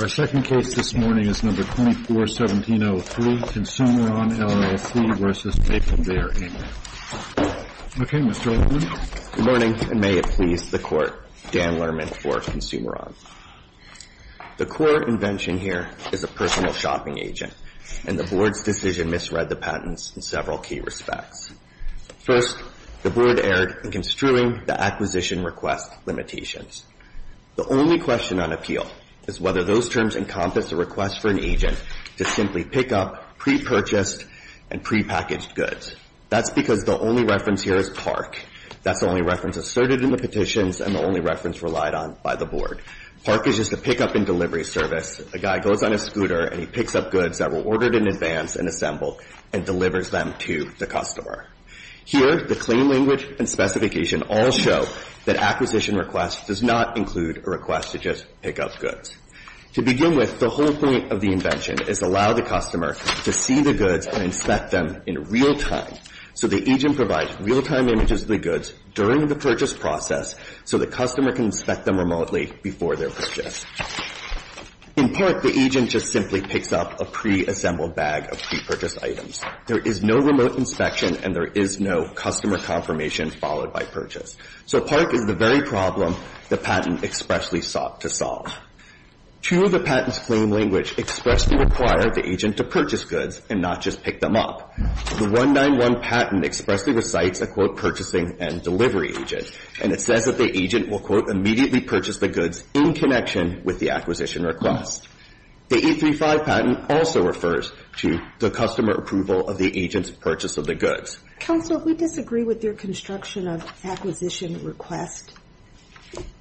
Our second case this morning is No. 24-1703, Consumeron, LLC v. Maplebear, Inc. Okay, Mr. Lerman. Good morning, and may it please the Court, Dan Lerman for Consumeron. The core invention here is a personal shopping agent, and the Board's decision misread the patents in several key respects. First, the Board erred in construing the acquisition request limitations. The only question on appeal is whether those terms encompass a request for an agent to simply pick up pre-purchased and pre-packaged goods. That's because the only reference here is PARC. That's the only reference asserted in the petitions and the only reference relied on by the Board. PARC is just a pickup and delivery service. A guy goes on his scooter, and he picks up goods that were ordered in advance and assembled and delivers them to the customer. Here, the claim language and specification all show that acquisition request does not include a request to just pick up goods. To begin with, the whole point of the invention is to allow the customer to see the goods and inspect them in real time, so the agent provides real-time images of the goods during the purchase process so the customer can inspect them remotely before their purchase. In PARC, the agent just simply picks up a pre-assembled bag of pre-purchased items. There is no remote inspection, and there is no customer confirmation followed by purchase. So PARC is the very problem the patent expressly sought to solve. Two of the patent's claim language expressly require the agent to purchase goods and not just pick them up. The 191 patent expressly recites a, quote, purchasing and delivery agent, and it says that the agent will, quote, immediately purchase the goods in connection with the acquisition request. The 835 patent also refers to the customer approval of the agent's purchase of the goods. Counsel, if we disagree with your construction of acquisition request,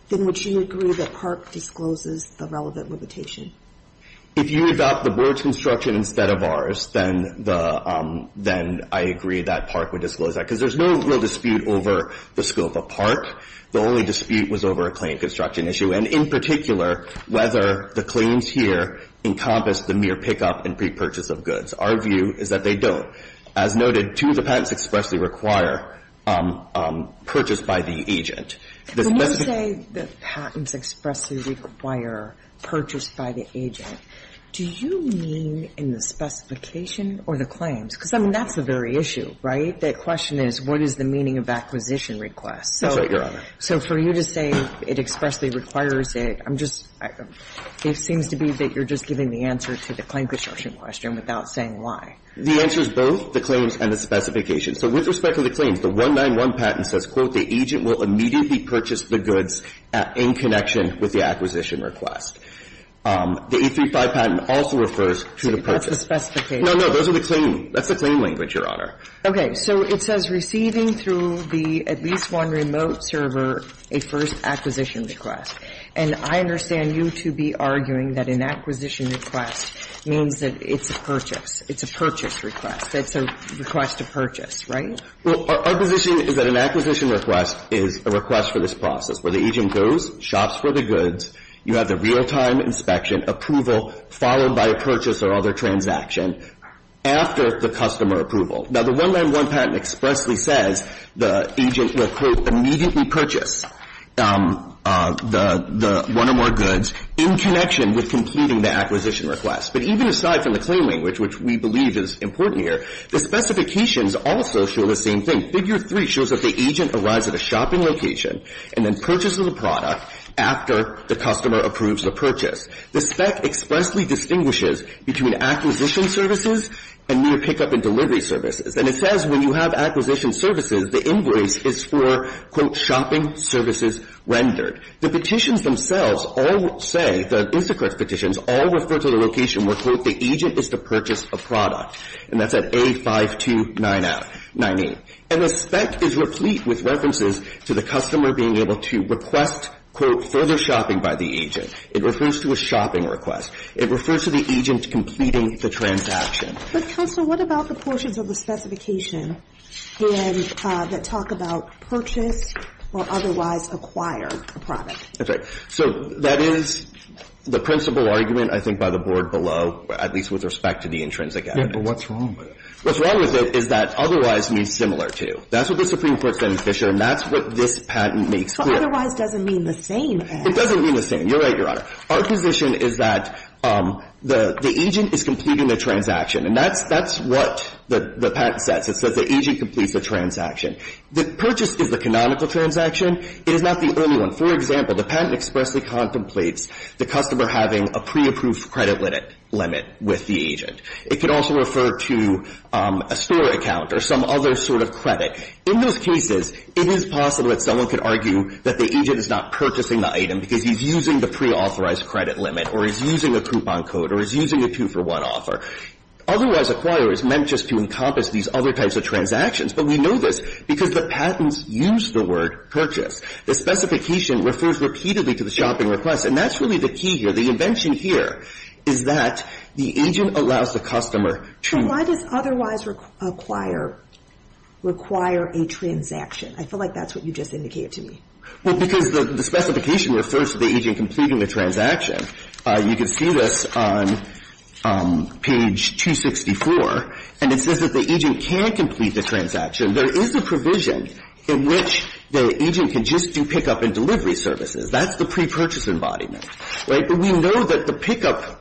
then would you agree that PARC discloses the relevant limitation? If you adopt the board's construction instead of ours, then I agree that PARC would disclose that, because there's no real dispute over the scope of PARC. The only dispute was over a claim construction issue, and in particular, whether the claims here encompass the mere pickup and pre-purchase of goods. Our view is that they don't. As noted, two of the patents expressly require purchase by the agent. The specific ---- But when you say the patents expressly require purchase by the agent, do you mean in the specification or the claims? Because, I mean, that's the very issue, right? The question is, what is the meaning of acquisition request? That's right, Your Honor. So for you to say it expressly requires it, I'm just ---- it seems to be that you're just giving the answer to the claim construction question without saying why. The answer is both, the claims and the specification. So with respect to the claims, the 191 patent says, quote, the agent will immediately purchase the goods in connection with the acquisition request. The 835 patent also refers to the purchase. That's the specification. No, no. Those are the claim. That's the claim language, Your Honor. Okay. So it says receiving through the at least one remote server a first acquisition request. And I understand you to be arguing that an acquisition request means that it's a purchase. It's a purchase request. It's a request to purchase, right? Well, our position is that an acquisition request is a request for this process where the agent goes, shops for the goods, you have the real-time inspection, approval, followed by a purchase or other transaction, after the customer approval. Now, the 191 patent expressly says the agent will, quote, immediately purchase the one or more goods in connection with completing the acquisition request. But even aside from the claim language, which we believe is important here, the specifications also show the same thing. Figure 3 shows that the agent arrives at a shopping location and then purchases a product after the customer approves the purchase. The spec expressly distinguishes between acquisition services and near pickup and purchase services. And it says when you have acquisition services, the invoice is for, quote, shopping services rendered. The petitions themselves all say, the Instacart petitions, all refer to the location where, quote, the agent is to purchase a product. And that's at A5298. And the spec is replete with references to the customer being able to request, quote, further shopping by the agent. It refers to a shopping request. It refers to the agent completing the transaction. But, counsel, what about the portions of the specification that talk about purchase or otherwise acquire a product? That's right. So that is the principal argument, I think, by the board below, at least with respect to the intrinsic evidence. Yes, but what's wrong with it? What's wrong with it is that otherwise means similar to. That's what the Supreme Court said in Fisher. And that's what this patent makes clear. But otherwise doesn't mean the same as. It doesn't mean the same. You're right, Your Honor. Our position is that the agent is completing the transaction. And that's what the patent says. It says the agent completes the transaction. The purchase is the canonical transaction. It is not the only one. For example, the patent expressly contemplates the customer having a pre-approved credit limit with the agent. It could also refer to a store account or some other sort of credit. In those cases, it is possible that someone could argue that the agent is not purchasing the item because he's using the pre-authorized credit limit, or he's using a coupon code, or he's using a two-for-one offer. Otherwise acquire is meant just to encompass these other types of transactions. But we know this because the patents use the word purchase. The specification refers repeatedly to the shopping request. And that's really the key here. The invention here is that the agent allows the customer to. But why does otherwise acquire require a transaction? I feel like that's what you just indicated to me. Well, because the specification refers to the agent completing the transaction. You can see this on page 264. And it says that the agent can complete the transaction. There is a provision in which the agent can just do pickup and delivery services. That's the pre-purchase embodiment. Right? But we know that the pickup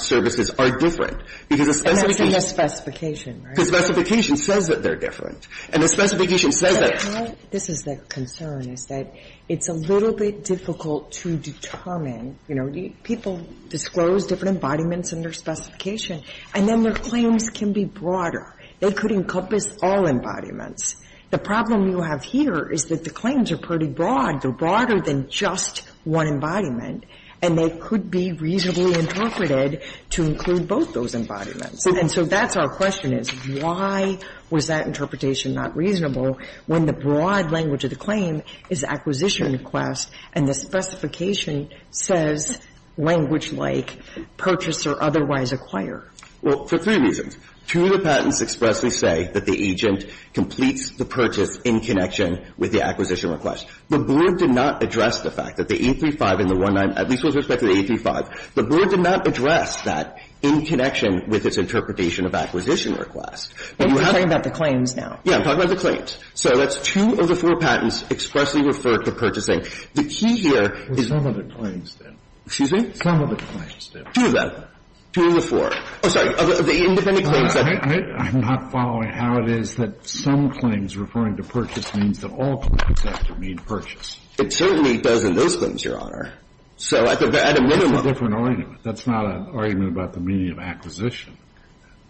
services are different, because a specification And that's in the specification, right? Because the specification says that they're different. And the specification says that But how this is a concern is that it's a little bit difficult to determine. You know, people disclose different embodiments in their specification. And then their claims can be broader. They could encompass all embodiments. The problem you have here is that the claims are pretty broad. They're broader than just one embodiment. And they could be reasonably interpreted to include both those embodiments. And so that's our question is, why was that interpretation not reasonable when the broad language of the claim is acquisition request and the specification says language like purchase or otherwise acquire? Well, for three reasons. Two, the patents expressly say that the agent completes the purchase in connection with the acquisition request. The board did not address the fact that the 835 and the 19, at least with respect to the 835. The board did not address that in connection with its interpretation of acquisition request. But you have to You're talking about the claims now. Yeah. I'm talking about the claims. So that's two of the four patents expressly refer to purchasing. The key here is Some of the claims do. Excuse me? Some of the claims do. Two of them. Two of the four. Oh, sorry. Of the independent claims that I'm not following how it is that some claims referring to purchase means that all claims have to mean purchase. It certainly does in those claims, Your Honor. So at a minimum That's a different argument. That's not an argument about the meaning of acquisition.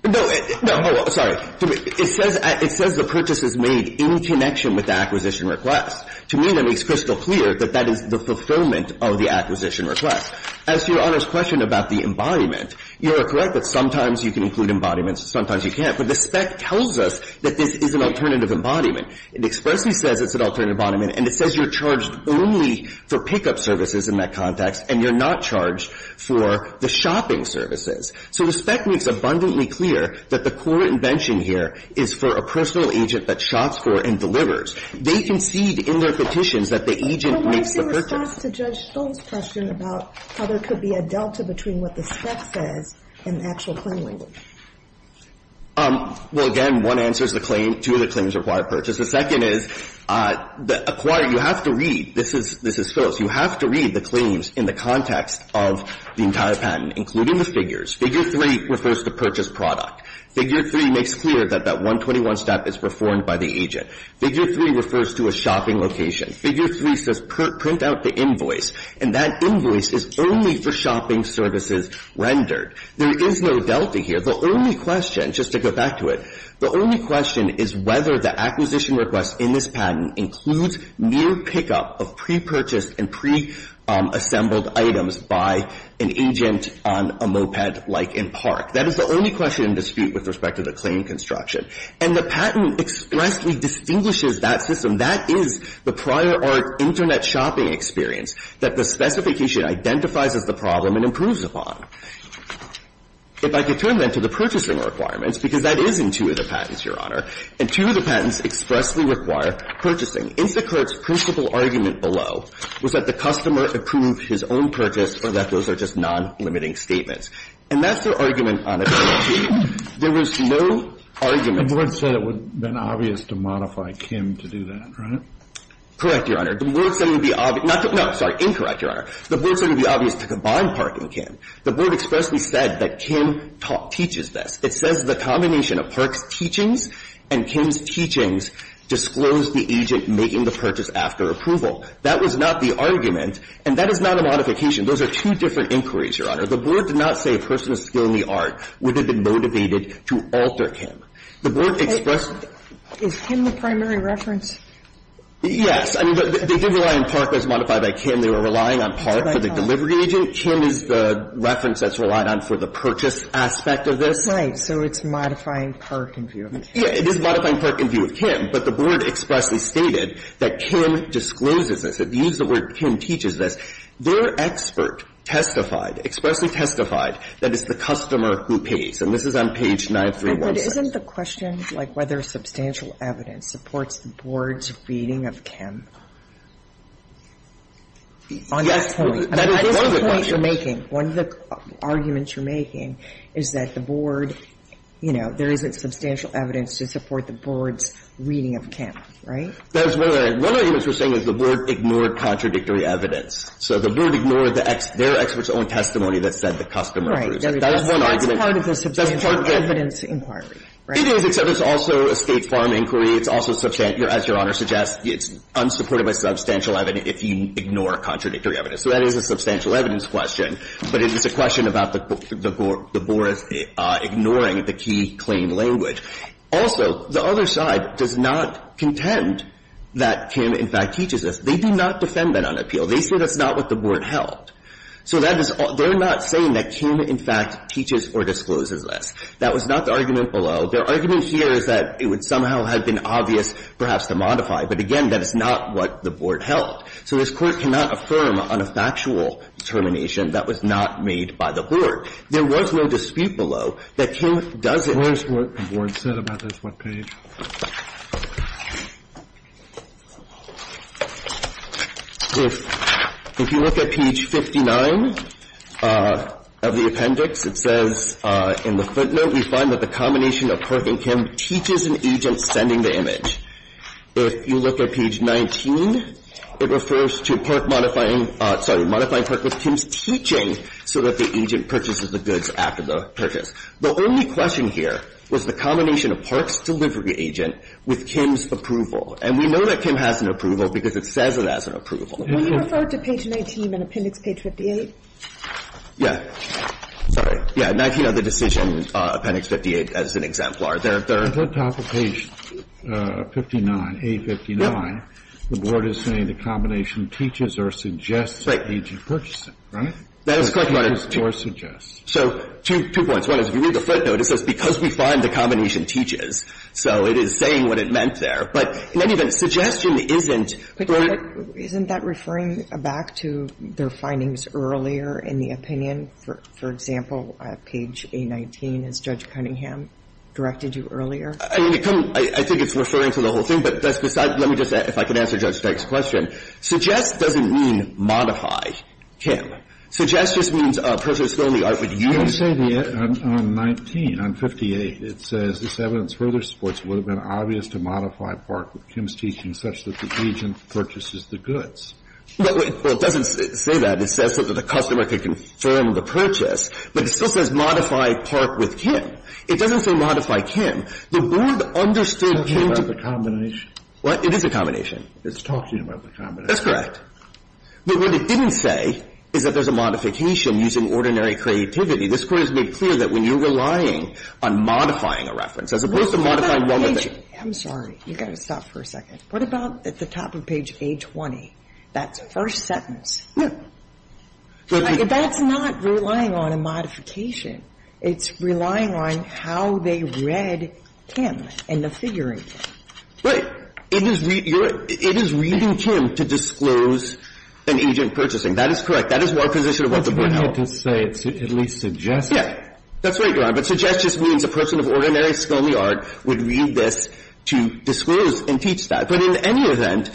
No. Oh, sorry. It says the purchase is made in connection with the acquisition request. To me, that makes crystal clear that that is the fulfillment of the acquisition request. As to Your Honor's question about the embodiment, you are correct that sometimes you can include embodiments, sometimes you can't. But the spec tells us that this is an alternative embodiment. It expressly says it's an alternative embodiment, and it says you're charged only for pickup services in that context, and you're not charged for the shopping services. So the spec makes abundantly clear that the core invention here is for a personal agent that shops for and delivers. They concede in their petitions that the agent makes the purchase. But what's the response to Judge Stone's question about how there could be a delta between what the spec says and the actual claim language? Well, again, one answer is the claim. Two of the claims require purchase. The second is the acquire. You have to read. This is Phyllis. You have to read the claims in the context of the entire patent, including the figures. Figure 3 refers to purchase product. Figure 3 makes clear that that 121 step is performed by the agent. Figure 3 refers to a shopping location. Figure 3 says print out the invoice, and that invoice is only for shopping services rendered. There is no delta here. The only question, just to go back to it, the only question is whether the pre-purchased and pre-assembled items by an agent on a moped like in Park. That is the only question in dispute with respect to the claim construction. And the patent expressly distinguishes that system. That is the prior art Internet shopping experience that the specification identifies as the problem and improves upon. If I could turn, then, to the purchasing requirements, because that is in two of the patents, Your Honor. In two of the patents expressly require purchasing. Instacart's principle argument below was that the customer approved his own purchase or that those are just non-limiting statements. And that's their argument on its own. There was no argument. The Board said it would have been obvious to modify Kim to do that, right? Correct, Your Honor. The Board said it would be obvious to combine Park and Kim. The Board expressly said that Kim teaches this. It says the combination of Park's teachings and Kim's teachings disclosed the agent making the purchase after approval. That was not the argument. And that is not a modification. Those are two different inquiries, Your Honor. The Board did not say a person of skill in the art would have been motivated to alter Kim. The Board expressed. Is Kim the primary reference? Yes. I mean, they did rely on Park as modified by Kim. They were relying on Park for the delivery agent. Kim is the reference that's relied on for the purchase aspect of this. Right. So it's modifying Park in view of Kim. It is modifying Park in view of Kim. But the Board expressly stated that Kim discloses this. It used the word Kim teaches this. Their expert testified, expressly testified that it's the customer who pays. And this is on page 9317. But isn't the question, like, whether substantial evidence supports the Board's reading of Kim? Yes. On this point. That is one of the questions. On this point you're making, one of the arguments you're making is that the Board, you know, there isn't substantial evidence to support the Board's reading of Kim. Right? That is one of the arguments we're saying is the Board ignored contradictory evidence. So the Board ignored their expert's own testimony that said the customer. Right. That is one argument. That's part of the substantial evidence inquiry. It is. It's also a State Farm inquiry. It's also, as Your Honor suggests, unsupported by substantial evidence if you ignore contradictory evidence. So that is a substantial evidence question. But it is a question about the Board ignoring the key claim language. Also, the other side does not contend that Kim, in fact, teaches this. They do not defend that on appeal. They say that's not what the Board held. So that is all. They're not saying that Kim, in fact, teaches or discloses this. That was not the argument below. Their argument here is that it would somehow have been obvious perhaps to modify. But again, that is not what the Board held. So this Court cannot affirm on a factual determination. That was not made by the Board. There was no dispute below that Kim does it. Where is what the Board said about this webpage? If you look at page 59 of the appendix, it says in the footnote, we find that the combination of Park and Kim teaches an agent sending the image. If you look at page 19, it refers to Park modifying, sorry, modifying Park with Kim's teaching so that the agent purchases the goods after the purchase. The only question here was the combination of Park's delivery agent with Kim's approval. And we know that Kim has an approval because it says it has an approval. When you refer to page 19 in appendix page 58? Yeah. Sorry. Yeah, 19 of the decision appendix 58 as an exemplar. At the top of page 59, A59, the Board is saying the combination teaches or suggests the agent purchasing, right? That is correct, Your Honor. Or suggests. So two points. One is if you read the footnote, it says because we find the combination teaches. So it is saying what it meant there. But in any event, suggestion isn't. Isn't that referring back to their findings earlier in the opinion? For example, page A19, as Judge Cunningham directed you earlier? I think it's referring to the whole thing. But let me just, if I can answer Judge Steig's question. Suggest doesn't mean modify Kim. Suggest just means a person is filling the art with you. Can you say on 19, on 58, it says this evidence further supports it would have been obvious to modify Park with Kim's teaching such that the agent purchases the goods. Well, it doesn't say that. It says that the customer could confirm the purchase. But it still says modify Park with Kim. It doesn't say modify Kim. The Board understood Kim to be. It's talking about the combination. What? It is a combination. It's talking about the combination. That's correct. But what it didn't say is that there's a modification using ordinary creativity. This Court has made clear that when you're relying on modifying a reference, as opposed to modifying one of the. I'm sorry. You've got to stop for a second. What about at the top of page A20? That's the first sentence. No. That's not relying on a modification. It's relying on how they read Kim and the figuring. Right. It is reading Kim to disclose an agent purchasing. That is correct. That is what our position of what the Board held. But you wanted to say at least suggest. Yeah. That's right, Your Honor. But suggest just means a person of ordinary skill in the art would read this to disclose and teach that. But in any event,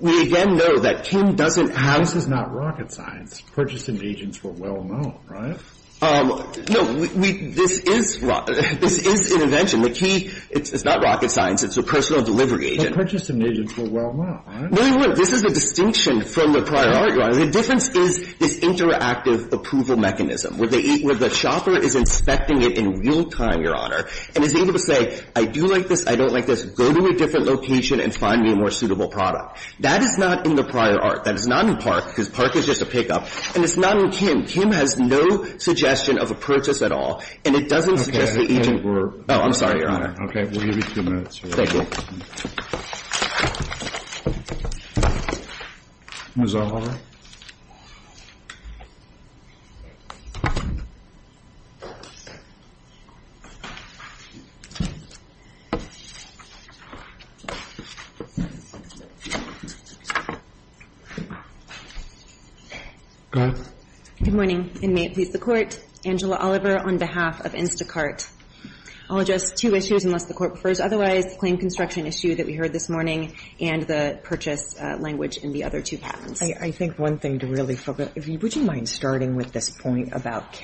we again know that Kim doesn't have. This is not rocket science. Purchasing agents were well known, right? No. This is an invention. The key is not rocket science. It's a personal delivery agent. But purchasing agents were well known, right? No, they weren't. This is a distinction from the prior art, Your Honor. The difference is this interactive approval mechanism where the shopper is inspecting it in real time, Your Honor, and is able to say I do like this, I don't like this, go to a different location and find me a more suitable product. That is not in the prior art. That is not in Park, because Park is just a pickup. And it's not in Kim. Kim has no suggestion of a purchase at all. And it doesn't suggest the agent were. Oh, I'm sorry, Your Honor. Okay. We'll give you two minutes. Thank you. Ms. Oliver. Go ahead. Good morning. And may it please the Court, Angela Oliver on behalf of Instacart. I'll address two issues unless the Court prefers otherwise. One is the claim construction issue that we heard this morning and the purchase language in the other two patents. I think one thing to really focus on, would you mind starting with this point about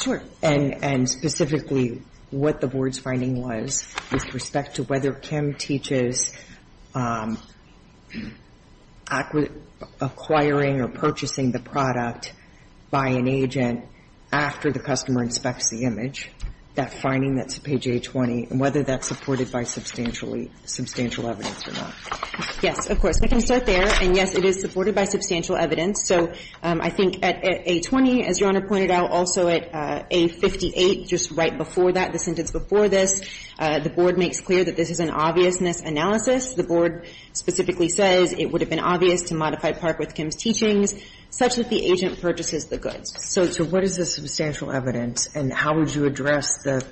Sure. And specifically what the Board's finding was with respect to whether Kim teaches acquiring or purchasing the product by an agent after the customer inspects the image, that finding that's at page A20, and whether that's supported by substantial evidence or not. Yes, of course. We can start there. And, yes, it is supported by substantial evidence. So I think at A20, as Your Honor pointed out, also at A58, just right before that, the sentence before this, the Board makes clear that this is an obviousness analysis. The Board specifically says it would have been obvious to modify Park with Kim's teachings such that the agent purchases the goods. So what is the substantial evidence, and how would you address the,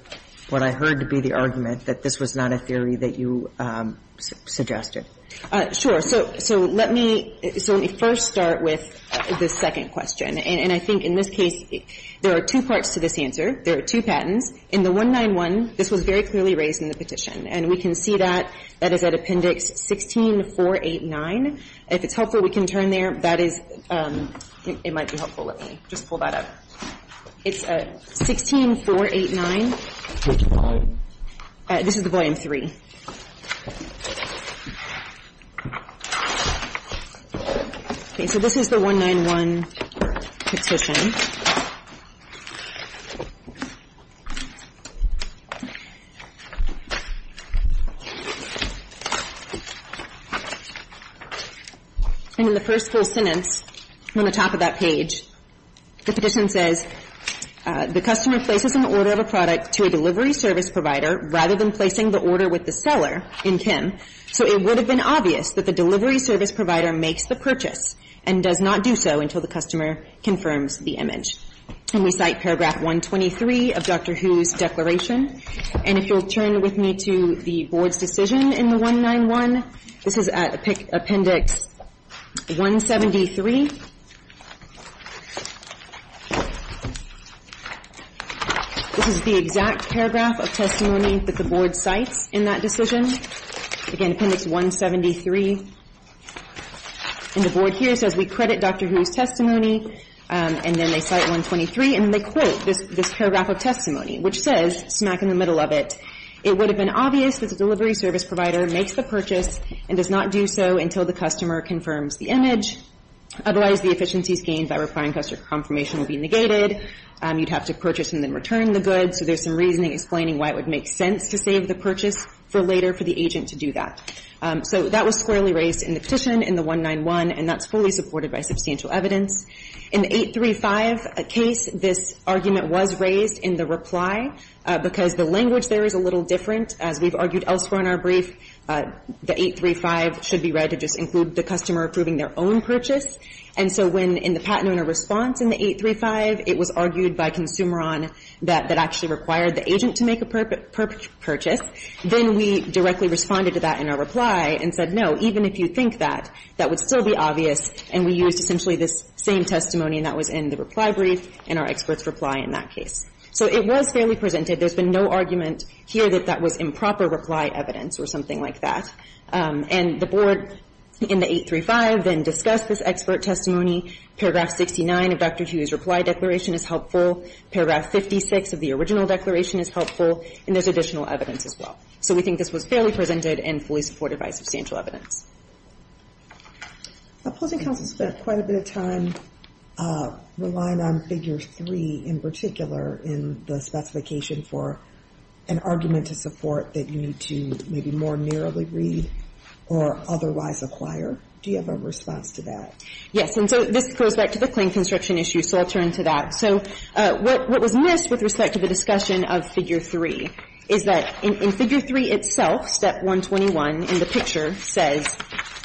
what I heard to be the argument that this was not a theory that you suggested? Sure. So let me first start with the second question. And I think in this case, there are two parts to this answer. There are two patents. In the 191, this was very clearly raised in the petition. And we can see that. That is at Appendix 16489. If it's helpful, we can turn there. That is, it might be helpful. Let me just pull that up. It's at 16489. This is the volume 3. Okay. So this is the 191 petition. And in the first full sentence, on the top of that page, the petition says, The customer places an order of a product to a delivery service provider rather than placing the order with the seller in Kim. So it would have been obvious that the delivery service provider makes the purchase and does not do so until the customer confirms the image. And we cite Paragraph 123 of Dr. Hu's declaration. And if you'll turn with me to the Board's decision in the 191, this is at Appendix 173. This is the exact paragraph of testimony that the Board cites in that decision. Again, Appendix 173. And the Board here says we credit Dr. Hu's testimony. And then they cite 123. And then they quote this paragraph of testimony, which says, smack in the middle of it, It would have been obvious that the delivery service provider makes the purchase and does not do so until the customer confirms the image. Otherwise, the efficiencies gained by requiring customer confirmation will be negated. You'd have to purchase and then return the goods. So there's some reasoning explaining why it would make sense to save the purchase for later for the agent to do that. So that was squarely raised in the petition in the 191, and that's fully supported by substantial evidence. In the 835 case, this argument was raised in the reply, because the language there is a little different. As we've argued elsewhere in our brief, the 835 should be read to just include the customer approving their own purchase. And so when in the patent owner response in the 835, it was argued by Consumeron that that actually required the agent to make a purchase, then we directly responded to that in our reply and said, no, even if you think that, that would still be obvious. And we used essentially this same testimony, and that was in the reply brief and our expert's reply in that case. So it was fairly presented. There's been no argument here that that was improper reply evidence or something like that. And the Board in the 835 then discussed this expert testimony, paragraph 69 of Dr. Hu's reply declaration is helpful, paragraph 56 of the original declaration is helpful, and there's additional evidence as well. So we think this was fairly presented and fully supported by substantial evidence. Posing counsel spent quite a bit of time relying on figure 3 in particular in the specification for an argument to support that you need to maybe more narrowly read or otherwise acquire. Do you have a response to that? Yes. And so this goes back to the claim construction issue. So I'll turn to that. So what was missed with respect to the discussion of figure 3 is that in figure 3 itself, step 121 in the picture says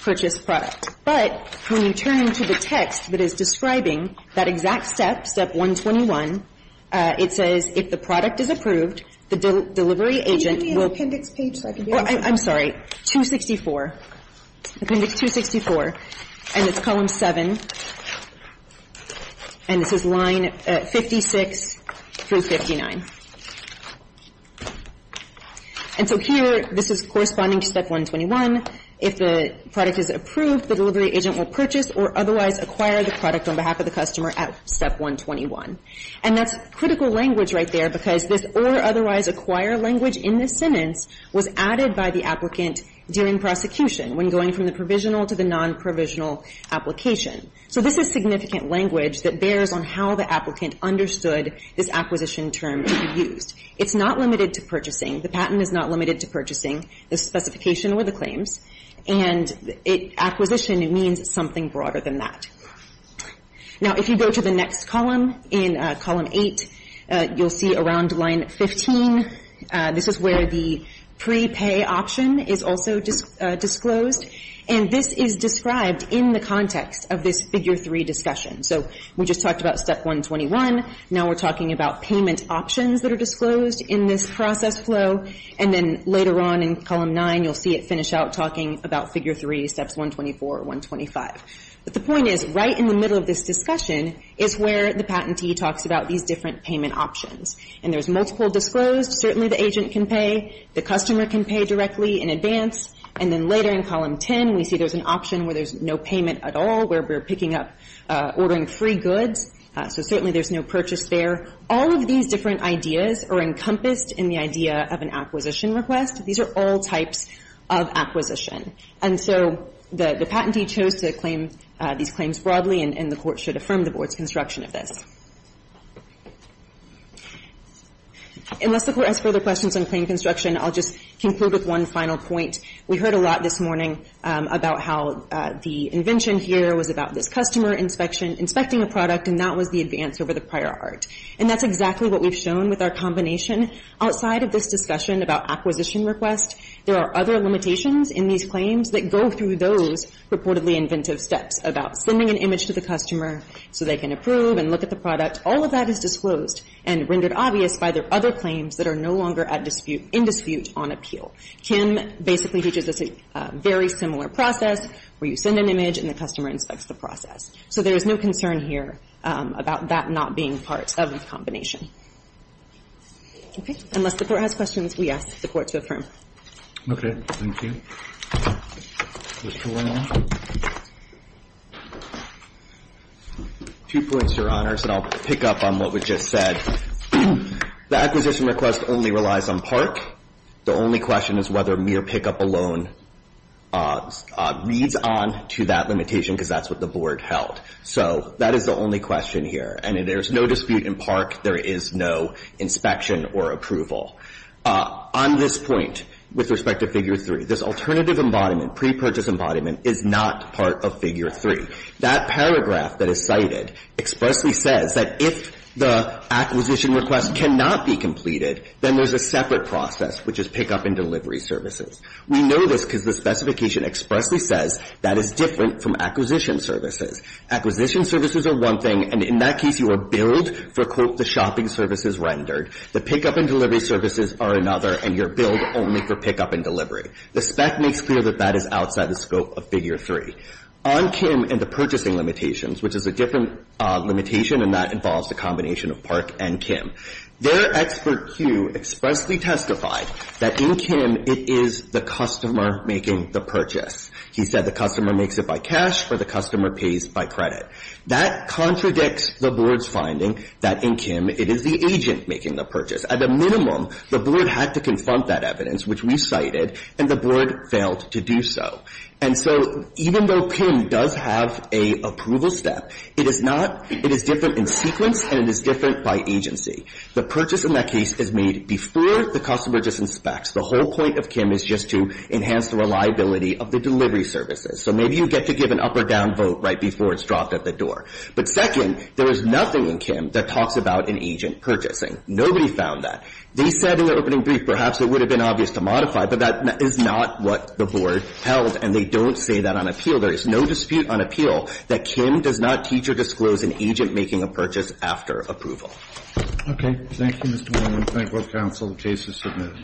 purchase product. But when you turn to the text that is describing that exact step, step 121, it says if the product is approved, the delivery agent will be. Can you give me an appendix page so I can do it? I'm sorry. Appendix 264. Appendix 264. And it's column 7. And this is line 56 through 59. And so here, this is corresponding to step 121. If the product is approved, the delivery agent will purchase or otherwise acquire the product on behalf of the customer at step 121. And that's critical language right there because this or otherwise acquire language in this sentence was added by the applicant during prosecution when going from the provisional to the non-provisional application. So this is significant language that bears on how the applicant understood this acquisition term to be used. It's not limited to purchasing. The patent is not limited to purchasing the specification or the claims. And acquisition means something broader than that. Now, if you go to the next column in column 8, you'll see around line 15, this is where the prepay option is also disclosed. And this is described in the context of this figure 3 discussion. So we just talked about step 121. Now we're talking about payment options that are disclosed in this process flow. And then later on in column 9, you'll see it finish out talking about figure 3, steps 124 or 125. But the point is, right in the middle of this discussion is where the patentee talks about these different payment options. And there's multiple disclosed. Certainly the agent can pay. The customer can pay directly in advance. And then later in column 10, we see there's an option where there's no payment at all, where we're picking up, ordering free goods. So certainly there's no purchase there. All of these different ideas are encompassed in the idea of an acquisition request. These are all types of acquisition. And so the patentee chose to claim these claims broadly, and the Court should affirm the Board's construction of this. Unless the Court has further questions on claim construction, I'll just conclude with one final point. We heard a lot this morning about how the invention here was about this customer inspecting a product, and that was the advance over the prior art. And that's exactly what we've shown with our combination. Outside of this discussion about acquisition request, there are other limitations in these claims that go through those reportedly inventive steps about sending an image of the product. All of that is disclosed and rendered obvious by their other claims that are no longer at dispute, in dispute on appeal. Kim basically teaches us a very similar process where you send an image and the customer inspects the process. So there is no concern here about that not being part of the combination. Okay. Unless the Court has questions, we ask the Court to affirm. Okay. Thank you. Just one more. Two points, Your Honors, and I'll pick up on what was just said. The acquisition request only relies on PARC. The only question is whether mere pickup alone reads on to that limitation because that's what the Board held. So that is the only question here. And there's no dispute in PARC. There is no inspection or approval. On this point with respect to Figure 3, this alternative embodiment, pre-purchase embodiment, is not part of Figure 3. That paragraph that is cited expressly says that if the acquisition request cannot be completed, then there's a separate process, which is pickup and delivery services. We know this because the specification expressly says that is different from acquisition services. Acquisition services are one thing, and in that case you are billed for, quote, the shopping services rendered. The pickup and delivery services are another, and you're billed only for pickup and delivery. The spec makes clear that that is outside the scope of Figure 3. On Kim and the purchasing limitations, which is a different limitation, and that involves a combination of PARC and Kim, their expert, Hugh, expressly testified that in Kim it is the customer making the purchase. He said the customer makes it by cash or the customer pays by credit. That contradicts the board's finding that in Kim it is the agent making the purchase. At a minimum, the board had to confront that evidence, which we cited, and the board failed to do so. And so even though Kim does have an approval step, it is not, it is different in sequence and it is different by agency. The purchase in that case is made before the customer just inspects. The whole point of Kim is just to enhance the reliability of the delivery services. So maybe you get to give an up or down vote right before it's dropped at the door. But second, there is nothing in Kim that talks about an agent purchasing. Nobody found that. They said in their opening brief perhaps it would have been obvious to modify, but that is not what the board held, and they don't say that on appeal. There is no dispute on appeal that Kim does not teach or disclose an agent making a purchase after approval. Thank you, Mr. Warren. We thank both counsel. The case is submitted.